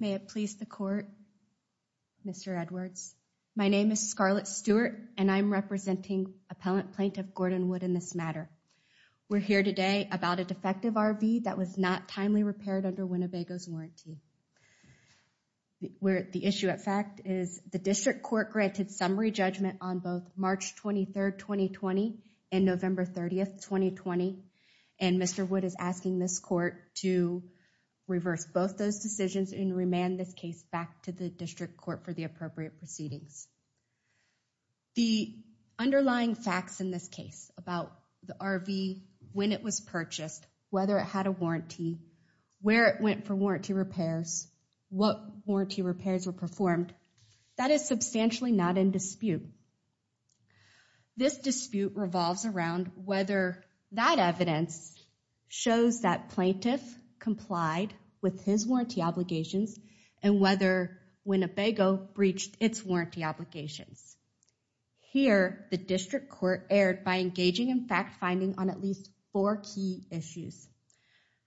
May it please the court, Mr. Edwards. My name is Scarlett Stewart and I'm representing appellant plaintiff Gordon Wood in this matter. We're here today about a defective RV that was not timely repaired under Winnebago's warranty. Where the issue at fact is the district court granted summary judgment on both March 23rd, 2020 and November 30th, 2020. And Mr. Wood is asking this court to reverse both those decisions and remand this case back to the district court for the appropriate proceedings. The underlying facts in this case about the RV, when it was purchased, whether it had a warranty, where it went for warranty repairs, what warranty repairs were performed, that is substantially not in dispute. This dispute revolves around whether that evidence shows that plaintiff complied with his warranty obligations and whether Winnebago breached its warranty obligations. Here, the district court erred by engaging in fact finding on at least four key issues.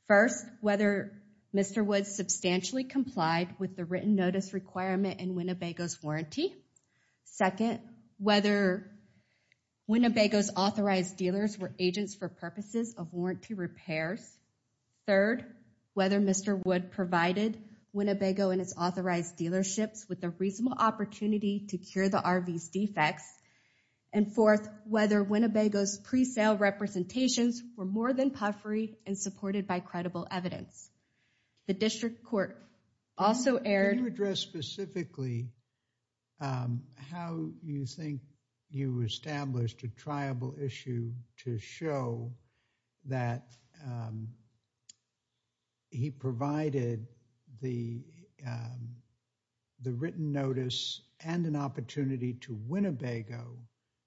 First, whether Mr. Wood substantially complied with the written notice requirement in Winnebago's warranty. Second, whether Winnebago's authorized dealers were agents for purposes of warranty repairs. Third, whether Mr. Wood provided Winnebago and its authorized dealerships with a reasonable opportunity to cure the RV's defects. And fourth, whether Winnebago's pre-sale representations were more than puffery and supported by credible evidence. The district court also erred. Can you address specifically how you think you established a triable issue to show that he provided the written notice and an opportunity to Winnebago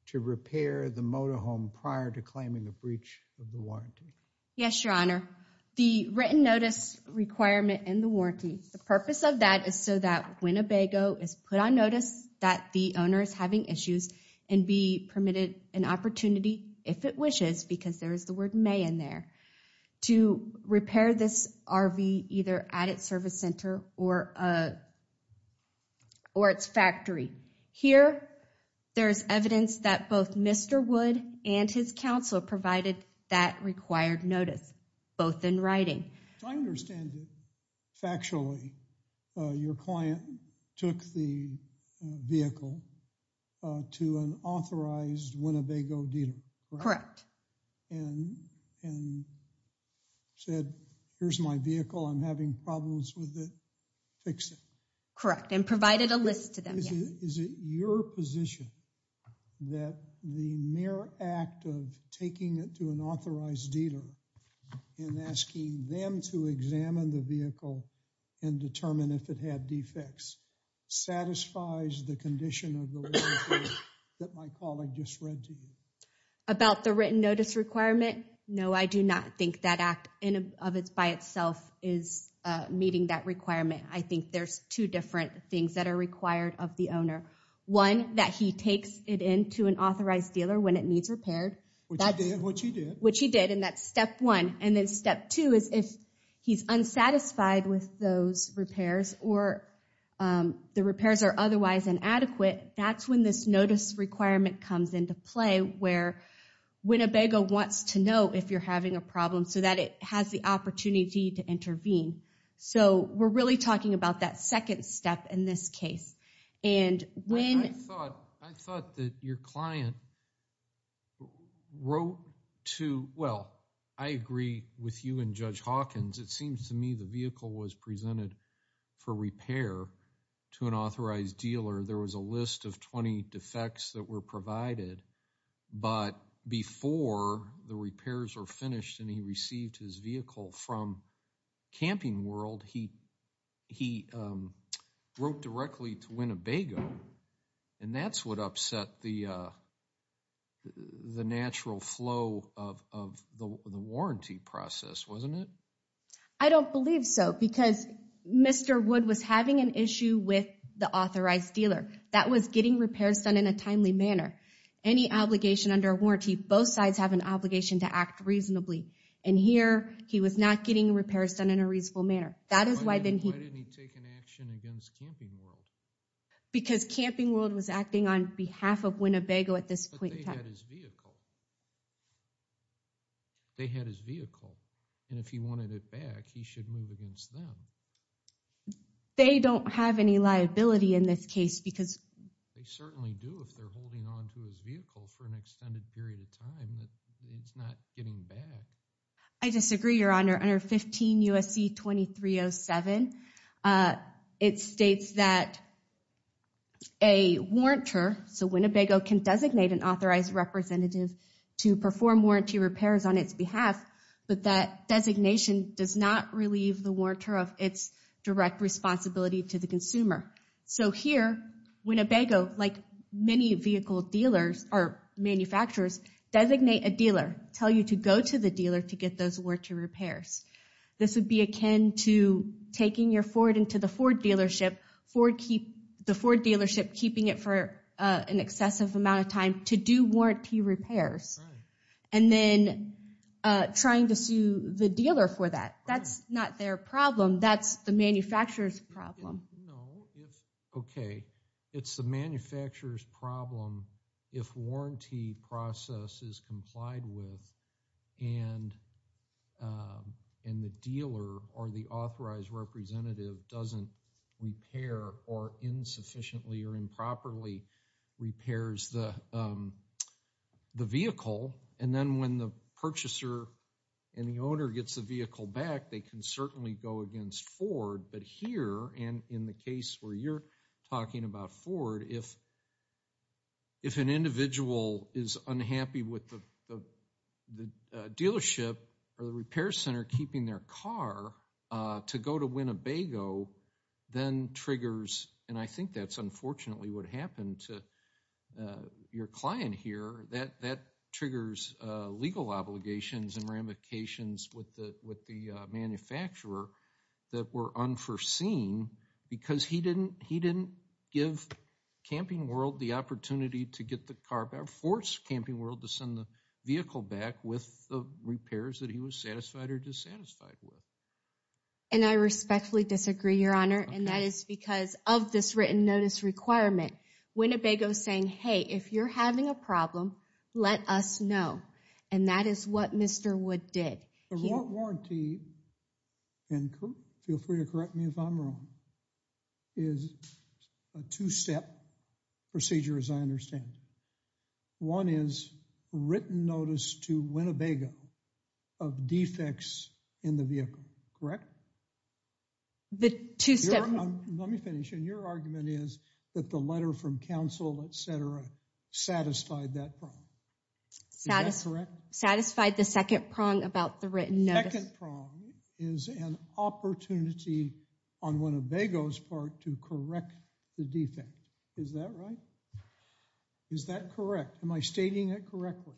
to repair the motorhome prior to claiming a breach of the warranty? Yes, Your Honor. The written notice requirement in the warranty, the purpose of that is so that Winnebago is put on notice that the owner is having issues and be permitted an opportunity, if it wishes, because there is the word may in there, to repair this RV either at its service center or its factory. Here, there's evidence that both Mr. Wood and his counsel provided that required notice, both in writing. To understand it factually, your client took the vehicle to an authorized Winnebago dealer, correct? Correct. And said, here's my vehicle, I'm having problems with it, fix it. Correct, and provided a list to them, yes. Is it your position that the mere act of taking it to an authorized dealer and asking them to examine the vehicle and determine if it had defects satisfies the condition of the warranty that my colleague just read to you? About the written notice requirement, no, I do not think that act by itself is meeting that requirement. I think there's two different things that are required of the owner. One, that he takes it in to an authorized dealer when it needs repaired. Which he did. Which he did, and that's step one. And then step two is if he's unsatisfied with those repairs, or the repairs are otherwise inadequate, that's when this notice requirement comes into play where Winnebago wants to know if you're having a problem so that it has the opportunity to intervene. So we're really talking about that second step in this case. And when- I thought that your client wrote to, well, I agree with you and Judge Hawkins, it seems to me the vehicle was presented for repair to an authorized dealer. There was a list of 20 defects that were provided. But before the repairs were finished and he received his vehicle from Camping World, he wrote directly to Winnebago. And that's what upset the natural flow of the warranty process, wasn't it? I don't believe so, because Mr. Wood was having an issue with the authorized dealer. That was getting repairs done in a timely manner. Any obligation under a warranty, both sides have an obligation to act reasonably. And here, he was not getting repairs done in a reasonable manner. That is why then he- Why didn't he take an action against Camping World? Because Camping World was acting on behalf of Winnebago at this point in time. But they had his vehicle. They had his vehicle. And if he wanted it back, he should move against them. They don't have any liability in this case because- They certainly do if they're holding onto his vehicle for an extended period of time that he's not getting back. I disagree, Your Honor. Under 15 U.S.C. 2307, it states that a warrantor, so Winnebago can designate an authorized representative to perform warranty repairs on its behalf, but that designation does not relieve the warrantor of its direct responsibility to the consumer. So here, Winnebago, like many vehicle dealers or manufacturers, designate a dealer, tell you to go to the dealer to get those warranty repairs. This would be akin to taking your Ford into the Ford dealership, the Ford dealership keeping it for an excessive amount of time to do warranty repairs. And then trying to sue the dealer for that. That's not their problem. That's the manufacturer's problem. Okay. It's the manufacturer's problem if warranty process is complied with and the dealer or the authorized representative doesn't repair or insufficiently or improperly repairs the vehicle. And then when the purchaser and the owner gets the vehicle back, they can certainly go against Ford. But here, and in the case where you're talking about Ford, if an individual is unhappy with the dealership or the repair center keeping their car to go to Winnebago, then triggers, and I think that's unfortunately what happened to your client here, that triggers legal obligations and ramifications with the manufacturer that were unforeseen because he didn't give Camping World the opportunity to get the car back, force Camping World to send the vehicle back with the repairs that he was satisfied or dissatisfied with. And I respectfully disagree, Your Honor, and that is because of this written notice requirement. Winnebago's saying, hey, if you're having a problem, let us know. And that is what Mr. Wood did. The warranty, and feel free to correct me if I'm wrong, is a two-step procedure, as I understand. One is written notice to Winnebago of defects in the vehicle, correct? The two-step... Let me finish, and your argument is that the letter from counsel, et cetera, satisfied that prong. Satisfied the second prong about the written notice. The second prong is an opportunity on Winnebago's part to correct the defect. Is that right? Is that correct? Am I stating it correctly?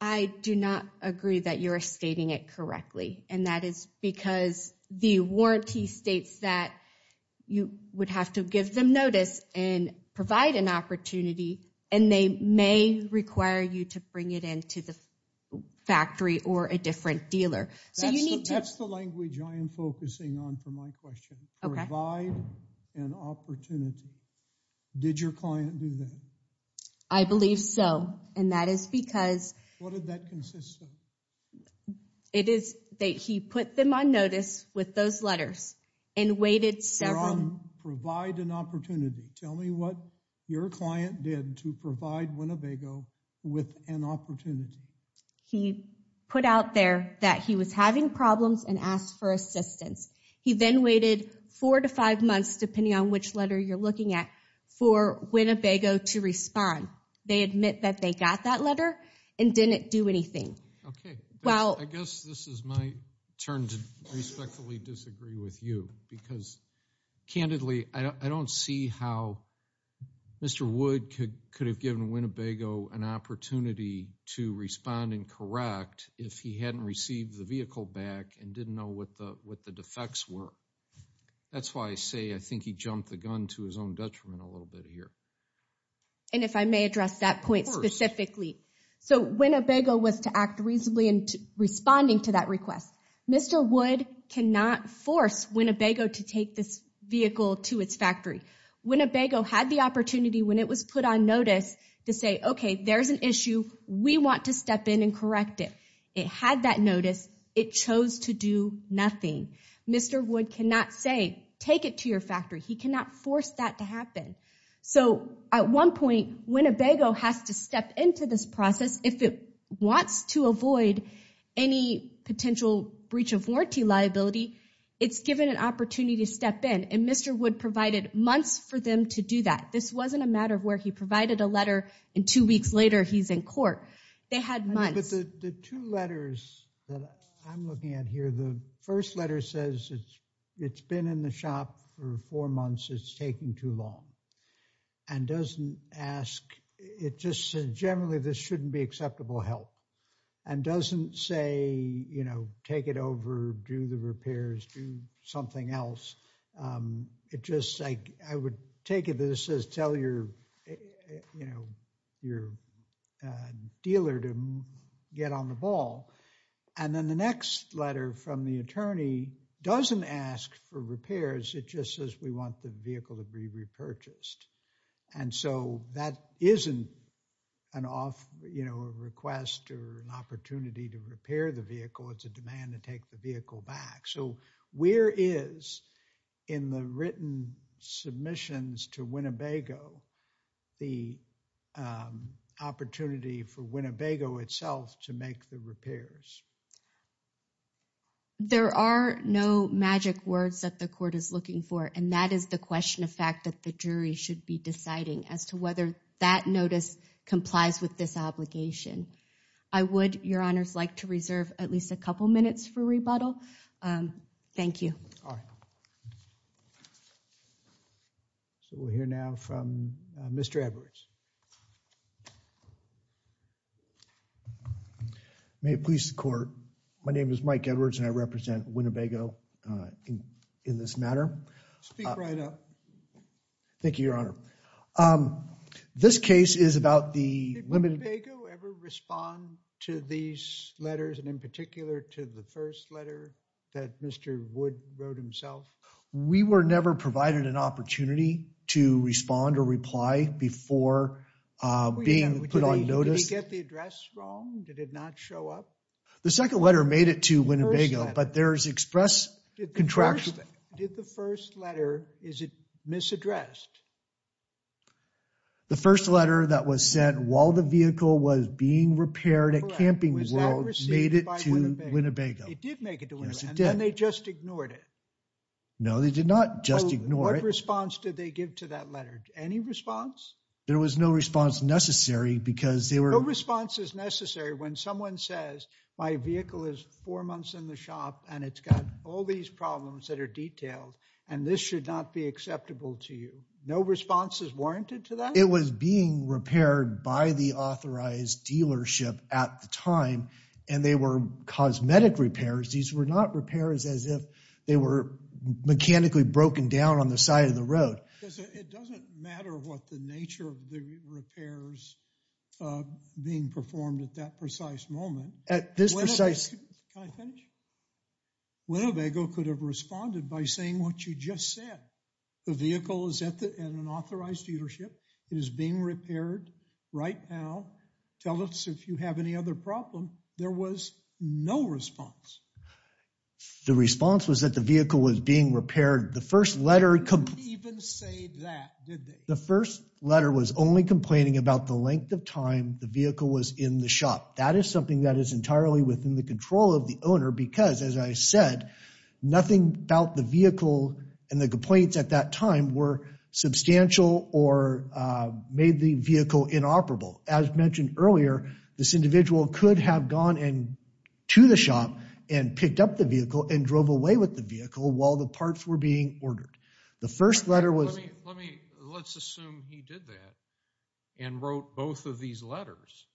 I do not agree that you're stating it correctly, and that is because the warranty states that you would have to give them notice and provide an opportunity, and they may require you to bring it in to the factory or a different dealer. So you need to... That's the language I am focusing on for my question. Okay. Provide an opportunity. Did your client do that? I believe so, and that is because... What did that consist of? It is that he put them on notice with those letters and waited several... Provide an opportunity. Tell me what your client did to provide Winnebago with an opportunity. He put out there that he was having problems and asked for assistance. He then waited four to five months, depending on which letter you're looking at, for Winnebago to respond. They admit that they got that letter and didn't do anything. Okay. Well... I guess this is my turn to respectfully disagree with you because, candidly, I don't see how Mr. Wood could have given Winnebago an opportunity to respond and correct if he hadn't received the vehicle back and didn't know what the defects were. That's why I say I think he jumped the gun to his own detriment a little bit here. And if I may address that point specifically. So, Winnebago was to act reasonably in responding to that request. Mr. Wood cannot force Winnebago to take this vehicle to its factory. Winnebago had the opportunity when it was put on notice to say, okay, there's an issue. We want to step in and correct it. It had that notice. It chose to do nothing. Mr. Wood cannot say, take it to your factory. He cannot force that to happen. So, at one point, Winnebago has to step into this process. If it wants to avoid any potential breach of warranty liability, it's given an opportunity to step in. And Mr. Wood provided months for them to do that. This wasn't a matter of where he provided a letter and two weeks later, he's in court. They had months. But the two letters that I'm looking at here, the first letter says it's been in the shop for four months. It's taking too long. And doesn't ask, it just said, generally, this shouldn't be acceptable help. And doesn't say, you know, take it over, do the repairs, do something else. It just, I would take it that it says, tell your dealer to get on the ball. And then the next letter from the attorney doesn't ask for repairs. It just says, we want the vehicle to be repurchased. And so that isn't an off request or an opportunity to repair the vehicle. It's a demand to take the vehicle back. So where is, in the written submissions to Winnebago, the opportunity for Winnebago itself to make the repairs? There are no magic words that the court is looking for. And that is the question of fact that the jury should be deciding as to whether that notice complies with this obligation. I would, your honors, like to reserve at least a couple minutes for rebuttal. Thank you. So we'll hear now from Mr. Edwards. May it please the court, my name is Mike Edwards and I represent Winnebago in this matter. Speak right up. Thank you, your honor. This case is about the limited- Did Winnebago ever respond to these letters and in particular to the first letter that Mr. Wood wrote himself? We were never provided an opportunity to respond or reply before the court or being put on notice. Did he get the address wrong? Did it not show up? The second letter made it to Winnebago, but there's express contraction. Did the first letter, is it misaddressed? The first letter that was sent while the vehicle was being repaired at Camping World made it to Winnebago. It did make it to Winnebago. Yes, it did. And then they just ignored it. No, they did not just ignore it. What response did they give to that letter? Any response? There was no response necessary because they were- No response is necessary when someone says, my vehicle is four months in the shop and it's got all these problems that are detailed and this should not be acceptable to you. No response is warranted to that? It was being repaired by the authorized dealership at the time and they were cosmetic repairs. These were not repairs as if they were mechanically broken down on the side of the road. It doesn't matter what the nature of the repairs being performed at that precise moment. At this precise- Can I finish? Winnebago could have responded by saying what you just said. The vehicle is at an authorized dealership. It is being repaired right now. Tell us if you have any other problem. There was no response. The response was that the vehicle was being repaired. The first letter- They didn't even say that, did they? The first letter was only complaining about the length of time the vehicle was in the shop. That is something that is entirely within the control of the owner because as I said, nothing about the vehicle and the complaints at that time were substantial or made the vehicle inoperable. As mentioned earlier, this individual could have gone and to the shop and picked up the vehicle and drove away with the vehicle while the parts were being ordered. The first letter was- Let me, let's assume he did that and wrote both of these letters.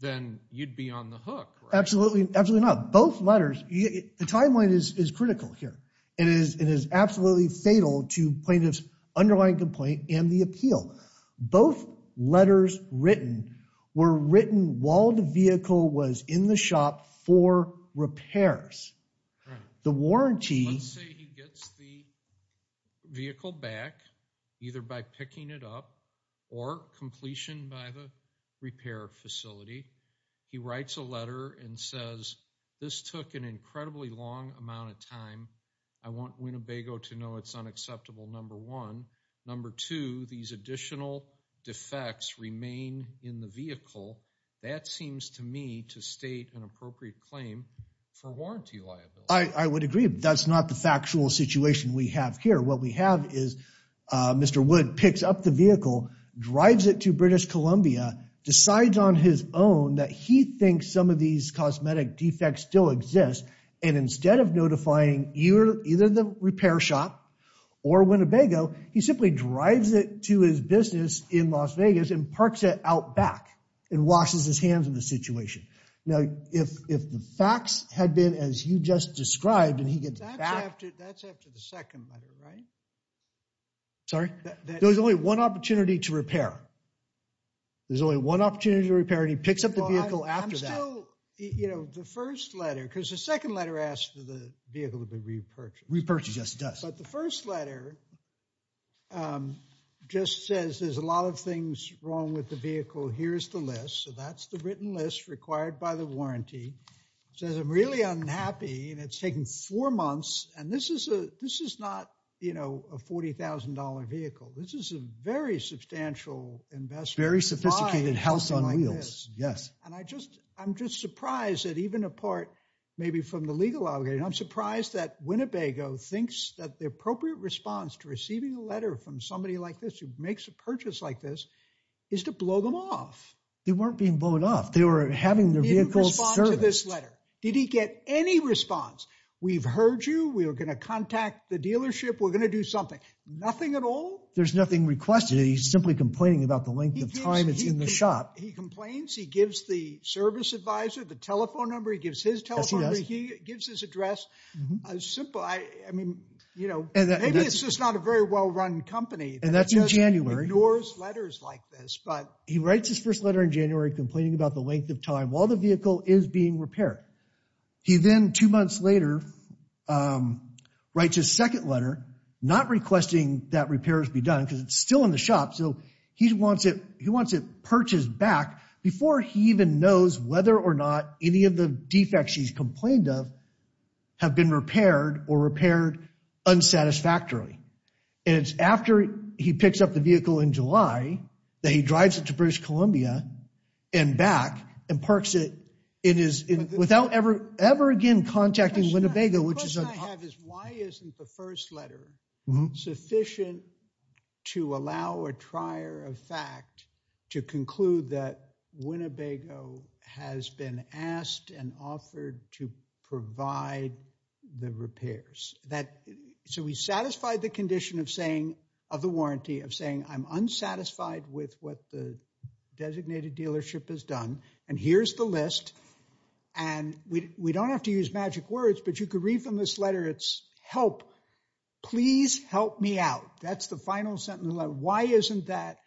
Then you'd be on the hook, right? Absolutely, absolutely not. Both letters, the timeline is critical here. It is absolutely fatal to plaintiff's underlying complaint and the appeal. Both letters written were written while the vehicle was in the shop for repairs. Right. The warranty- Let's say he gets the vehicle back, either by picking it up or completion by the repair facility. He writes a letter and says, this took an incredibly long amount of time. I want Winnebago to know it's unacceptable, number one. Number two, these additional defects remain in the vehicle. That seems to me to state an appropriate claim for warranty liability. I would agree, but that's not the factual situation we have here. What we have is Mr. Wood picks up the vehicle, drives it to British Columbia, decides on his own that he thinks some of these cosmetic defects still exist. And instead of notifying either the repair shop or Winnebago, he simply drives it to his business in Las Vegas and parks it out back and washes his hands of the situation. Now, if the facts had been as you just described and he gets back- That's after the second letter, right? Sorry? There's only one opportunity to repair. There's only one opportunity to repair and he picks up the vehicle after that. I'm still, you know, the first letter, because the second letter asks that the vehicle be repurchased. Repurchase, yes, it does. But the first letter just says there's a lot of things wrong with the vehicle. Here's the list. So that's the written list required by the warranty. It says I'm really unhappy and it's taken four months. And this is not, you know, a $40,000 vehicle. This is a very substantial investment. Very sophisticated house on wheels, yes. And I'm just surprised that even a part maybe from the legal algorithm, I'm surprised that Winnebago thinks that the appropriate response to receiving a letter from somebody like this who makes a purchase like this is to blow them off. They weren't being blown off. They were having their vehicles serviced. He didn't respond to this letter. Did he get any response? We've heard you. We are going to contact the dealership. We're going to do something. Nothing at all? There's nothing requested. He's simply complaining about the length of time it's in the shop. He complains. He gives the service advisor the telephone number. He gives his telephone number. He gives his address. A simple, I mean, you know, maybe it's just not a very well-run company. And that's in January. That just ignores letters like this, but. He writes his first letter in January complaining about the length of time while the vehicle is being repaired. He then, two months later, writes his second letter not requesting that repairs be done because it's still in the shop. So he wants it purchased back before he even knows whether or not any of the defects he's complained of have been repaired or repaired unsatisfactorily. And it's after he picks up the vehicle in July that he drives it to British Columbia and back and parks it without ever again contacting Winnebago. The question I have is why isn't the first letter sufficient to allow a trier of fact to conclude that Winnebago has been asked and offered to provide the repairs? So he's satisfied the condition of saying, of the warranty, of saying I'm unsatisfied with what the designated dealership has done. And here's the list. And we don't have to use magic words, but you could read from this letter, it's help. Please help me out. That's the final sentence of the letter. Why isn't that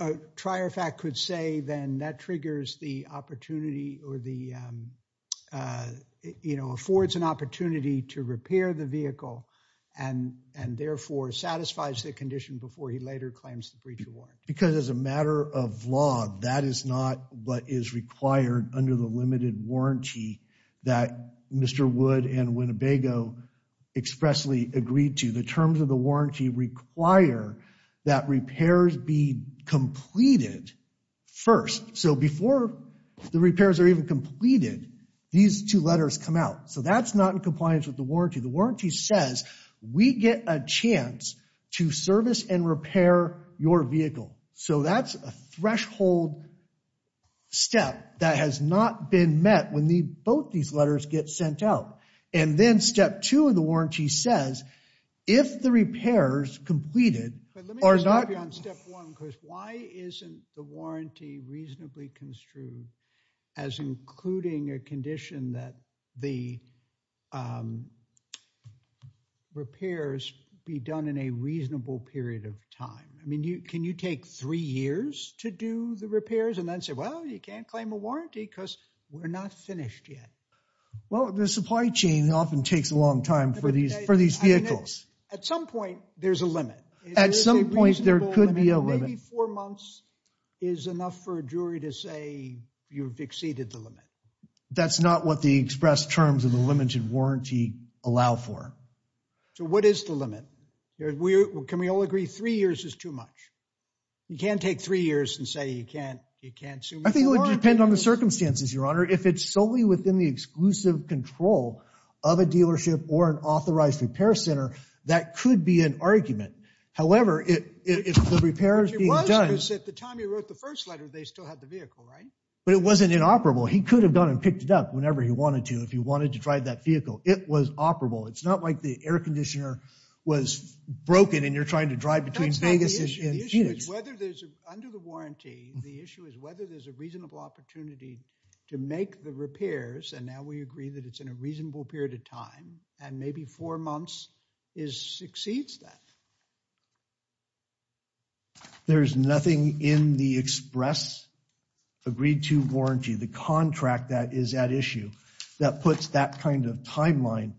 a trier of fact could say then that triggers the opportunity or affords an opportunity to repair the vehicle and therefore satisfies the condition before he later claims the breach of warranty? Because as a matter of law, that is not what is required under the limited warranty that Mr. Wood and Winnebago expressly agreed to. The terms of the warranty require that repairs be completed first. So before the repairs are even completed, these two letters come out. So that's not in compliance with the warranty. The warranty says, we get a chance to service and repair your vehicle. So that's a threshold step that has not been met when both these letters get sent out. And then step two of the warranty says, if the repairs completed are not- Let me interrupt you on step one, because why isn't the warranty reasonably construed as including a condition that the repairs be done in a reasonable period of time? I mean, can you take three years to do the repairs and then say, well, you can't claim a warranty because we're not finished yet? Well, the supply chain often takes a long time for these vehicles. At some point, there's a limit. At some point, there could be a limit. Maybe four months is enough for a jury to say you've exceeded the limit. That's not what the express terms of the limited warranty allow for. So what is the limit? Can we all agree three years is too much? You can't take three years and say you can't- I think it would depend on the circumstances, Your Honor. If it's solely within the exclusive control of a dealership or an authorized repair center, that could be an argument. However, if the repair is being done- It was because at the time he wrote the first letter, they still had the vehicle, right? But it wasn't inoperable. He could have gone and picked it up whenever he wanted to, if he wanted to drive that vehicle. It was operable. It's not like the air conditioner was broken and you're trying to drive between Vegas and Phoenix. The issue is whether there's, under the warranty, the issue is whether there's a reasonable opportunity to make the repairs, and now we agree that it's in a reasonable period of time, and maybe four months exceeds that. There's nothing in the express agreed-to warranty. The contract that is at issue that puts that kind of timeline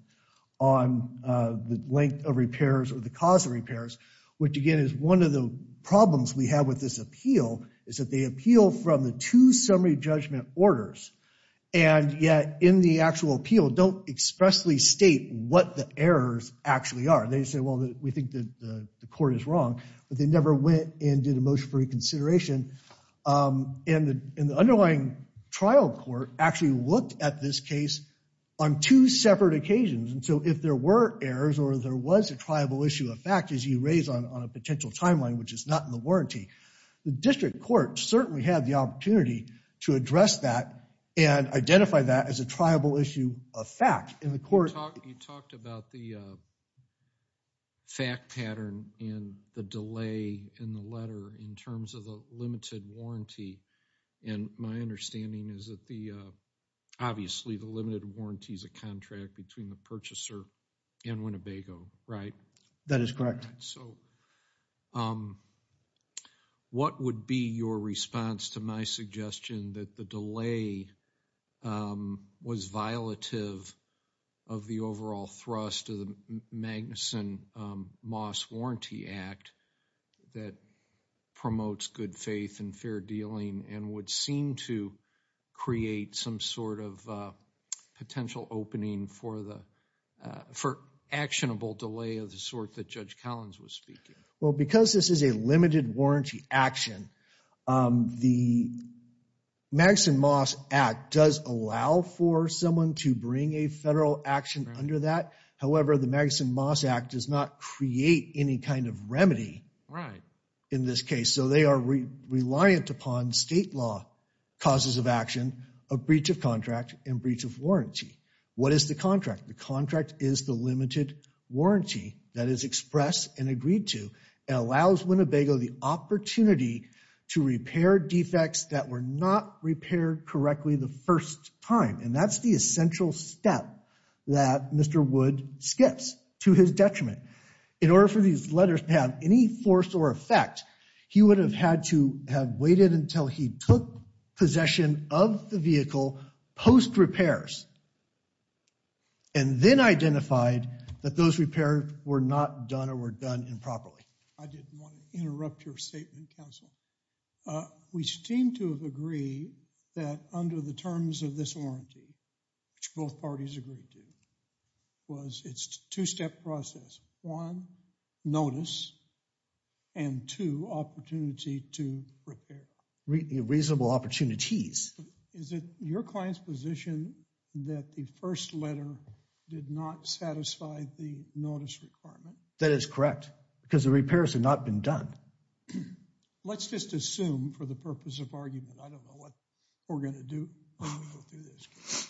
on the length of repairs or the cause of repairs, which again, is one of the problems we have with this appeal is that they appeal from the two summary judgment orders, and yet in the actual appeal, don't expressly state what the errors actually are. They say, well, we think that the court is wrong, but they never went and did a motion for reconsideration. And the underlying trial court actually looked at this case on two separate occasions, and so if there were errors or there was a triable issue of fact, as you raise on a potential timeline, which is not in the warranty, the district court certainly had the opportunity to address that and identify that as a triable issue of fact, and the court- You talked about the fact pattern and the delay in the letter in terms of the limited warranty. And my understanding is that the, obviously the limited warranty is a contract between the purchaser and Winnebago, right? That is correct. So what would be your response to my suggestion that the delay was violative of the overall thrust of the Magnuson Moss Warranty Act that promotes good faith and fair dealing and would seem to create some sort of potential opening for actionable delay of the sort that Judge Collins was speaking? Well, because this is a limited warranty action, the Magnuson Moss Act does allow for someone to bring a federal action under that. However, the Magnuson Moss Act does not create any kind of remedy in this case. So they are reliant upon state law causes of action, a breach of contract and breach of warranty. What is the contract? The contract is the limited warranty that is expressed and agreed to. It allows Winnebago the opportunity to repair defects that were not repaired correctly the first time. And that's the essential step that Mr. Wood skips to his detriment. In order for these letters to have any force or effect, he would have had to have waited until he took possession of the vehicle post-repairs and then identified that those repairs were not done or were done improperly. I didn't want to interrupt your statement, counsel. We seem to agree that under the terms of this warranty, which both parties agreed to, was it's a two-step process. One, notice, and two, opportunity to repair. Reasonable opportunities. Is it your client's position that the first letter did not satisfy the notice requirement? That is correct, because the repairs had not been done. Let's just assume for the purpose of argument, I don't know what we're going to do when we go through this case.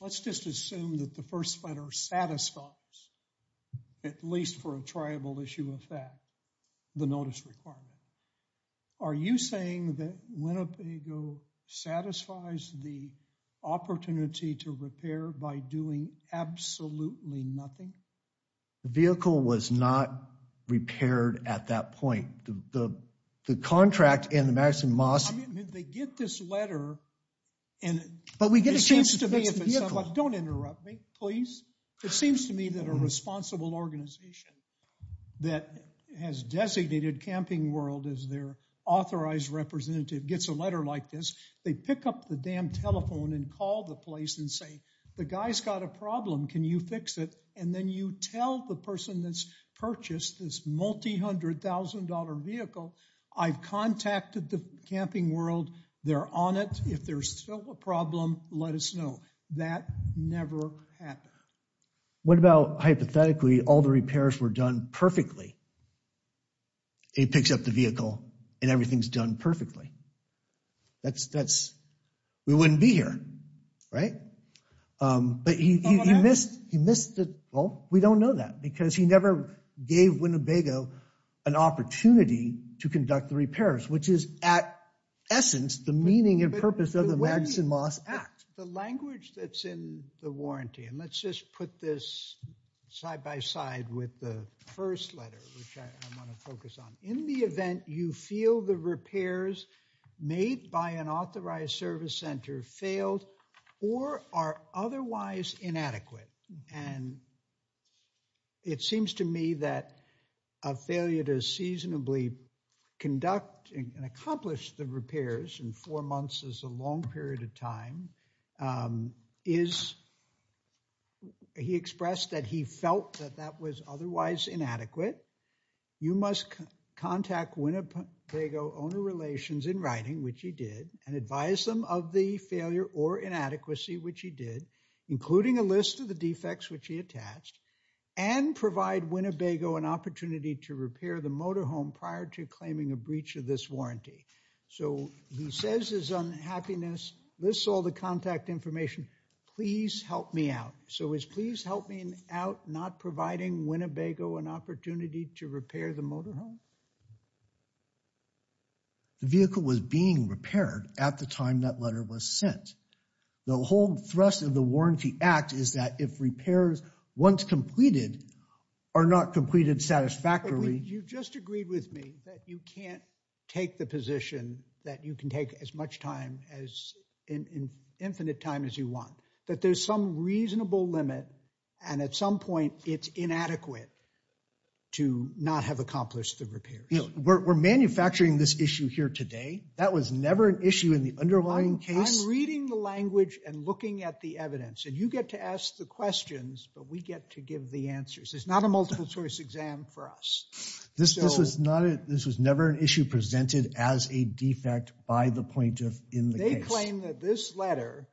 Let's just assume that the first letter satisfies, at least for a tribal issue of that, the notice requirement. Are you saying that Winnebago satisfies the opportunity to repair by doing absolutely nothing? The vehicle was not repaired at that point. The contract and the Madison Moss. They get this letter and... But we get a chance to fix the vehicle. Don't interrupt me, please. It seems to me that a responsible organization that has designated Camping World as their authorized representative gets a letter like this. They pick up the damn telephone and call the place and say, the guy's got a problem, can you fix it? And then you tell the person that's purchased this multi-hundred thousand dollar vehicle, I've contacted the Camping World, they're on it. If there's still a problem, let us know. That never happened. What about hypothetically, all the repairs were done perfectly? He picks up the vehicle and everything's done perfectly. That's, we wouldn't be here, right? But he missed, well, we don't know that because he never gave Winnebago an opportunity to conduct the repairs, which is at essence the meaning and purpose of the Madison Moss Act. The language that's in the warranty, and let's just put this side by side with the first letter, which I want to focus on. In the event you feel the repairs made by an authorized service center failed or are otherwise inadequate, and it seems to me that a failure that has seasonably conducted and accomplished the repairs in four months is a long period of time, he expressed that he felt that that was otherwise inadequate. You must contact Winnebago Owner Relations in writing, which he did, and advise them of the failure or inadequacy, which he did, including a list of the defects which he attached, and provide Winnebago an opportunity to repair the motorhome prior to claiming a breach of this warranty. So he says his unhappiness, lists all the contact information, please help me out. So is please help me out not providing Winnebago an opportunity to repair the motorhome? The vehicle was being repaired at the time that letter was sent. The whole thrust of the Warranty Act is that if repairs, once completed, are not completed satisfactorily. You just agreed with me that you can't take the position that you can take as much time, as infinite time as you want, that there's some reasonable limit, and at some point it's inadequate to not have accomplished the repairs. We're manufacturing this issue here today. That was never an issue in the underlying case. I'm reading the language and looking at the evidence, and you get to ask the questions, but we get to give the answers. It's not a multiple source exam for us. This was never an issue presented as a defect by the point of in the case. They claim that this letter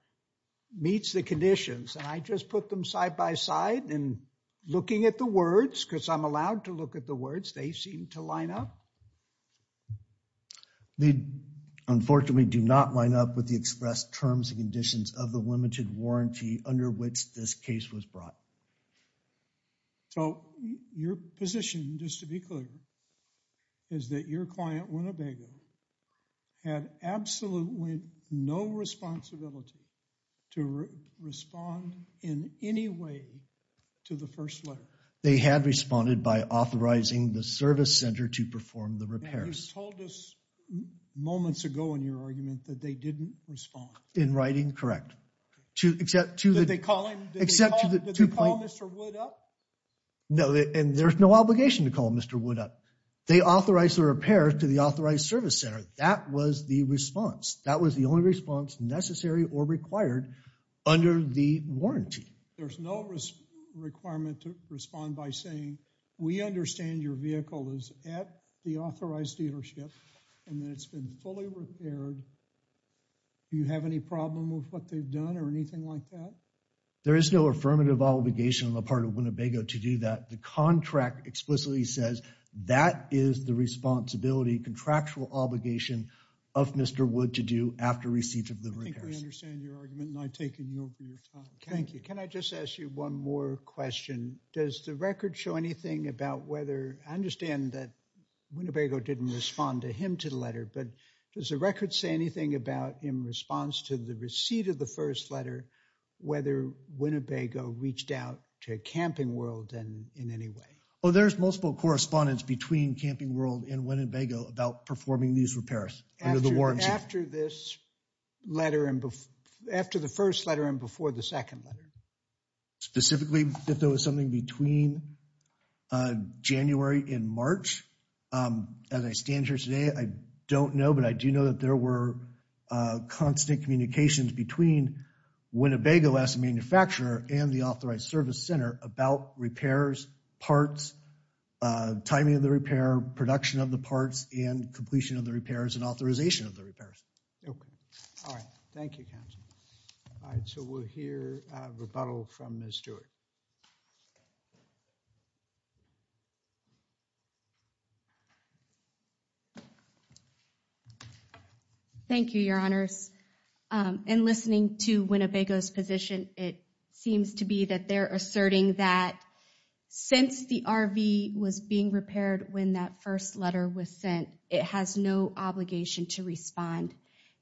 meets the conditions, and I just put them side by side, and looking at the words, because I'm allowed to look at the words, they seem to line up. They unfortunately do not line up with the expressed terms and conditions of the limited warranty under which this case was brought. So your position, just to be clear, is that your client, Winnebago, had absolutely no responsibility to respond in any way to the first letter. They had responded by authorizing the service center to perform the repairs. You told us moments ago in your argument that they didn't respond. In writing, correct, except to the two points. Did they call Mr. Wood up? No, and there's no obligation to call Mr. Wood up. They authorized the repair to the authorized service center. That was the response. That was the only response necessary or required under the warranty. There's no requirement to respond by saying, we understand your vehicle is at the authorized dealership, and that it's been fully repaired. Do you have any problem with what they've done or anything like that? There is no affirmative obligation on the part of Winnebago to do that. The contract explicitly says, that is the responsibility, contractual obligation of Mr. Wood to do after receipt of the repairs. I think we understand your argument, and I've taken you over your time. Thank you. Can I just ask you one more question? I understand that Winnebago didn't respond to him to the letter, but does the record say anything about, in response to the receipt of the first letter, whether Winnebago reached out to Camping World in any way? Oh, there's multiple correspondence between Camping World and Winnebago about performing these repairs under the warranty. After this letter, after the first letter and before the second letter? Specifically, if there was something between January and March. As I stand here today, I don't know, but I do know that there were constant communications between Winnebago as a manufacturer and the Authorized Service Center about repairs, parts, timing of the repair, production of the parts, and completion of the repairs and authorization of the repairs. Okay. All right. Thank you, counsel. All right, so we'll hear a rebuttal from Ms. Stewart. Thank you, Your Honors. In listening to Winnebago's position, it seems to be that they're asserting that since the RV was being repaired when that first letter was sent, it has no obligation to respond.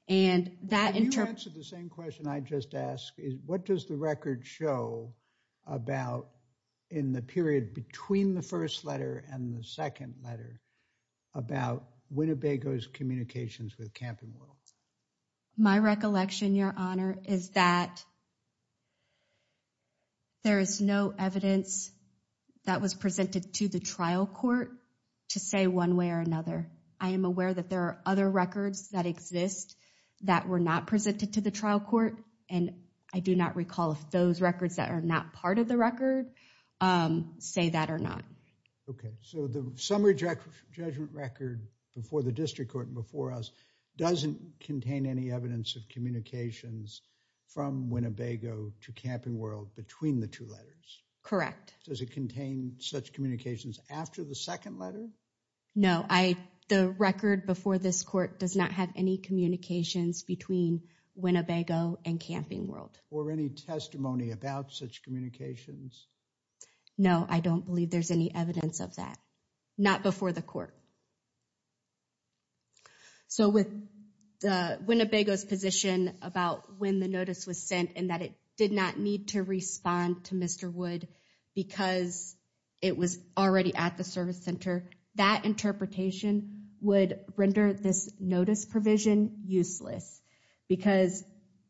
And that in terms of- You answered the same question I just asked, is what does the record show about, in the period between the first letter and the second letter, about Winnebago's communications with Camping World? My recollection, Your Honor, is that there is no evidence that was presented to the trial court to say one way or another. I am aware that there are other records that exist that were not presented to the trial court, and I do not recall if those records that are not part of the record say that or not. Okay, so the summary judgment record before the district court and before us doesn't contain any evidence of communications from Winnebago to Camping World between the two letters? Correct. Does it contain such communications after the second letter? No, the record before this court does not have any communications between Winnebago and Camping World. Or any testimony about such communications? No, I don't believe there's any evidence of that. Not before the court. So with Winnebago's position about when the notice was sent and that it did not need to respond to Mr. Wood because it was already at the service center, that interpretation would render this notice provision useless because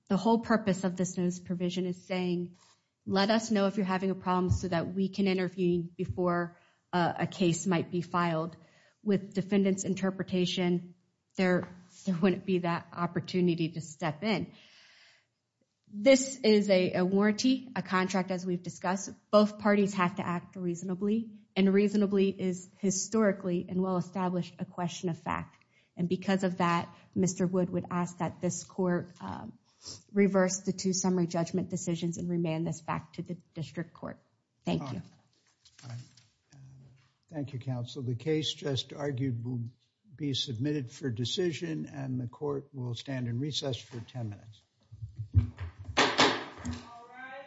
the whole purpose of this notice provision is saying, let us know if you're having any issues or you're having a problem so that we can intervene before a case might be filed. With defendant's interpretation, there wouldn't be that opportunity to step in. This is a warranty, a contract as we've discussed. Both parties have to act reasonably, and reasonably is historically and well-established a question of fact. And because of that, Mr. Wood would ask that this court reverse the two summary judgment decisions and remand this back to the district court. Thank you. Thank you, counsel. The case just argued will be submitted for decision and the court will stand in recess for 10 minutes. All rise.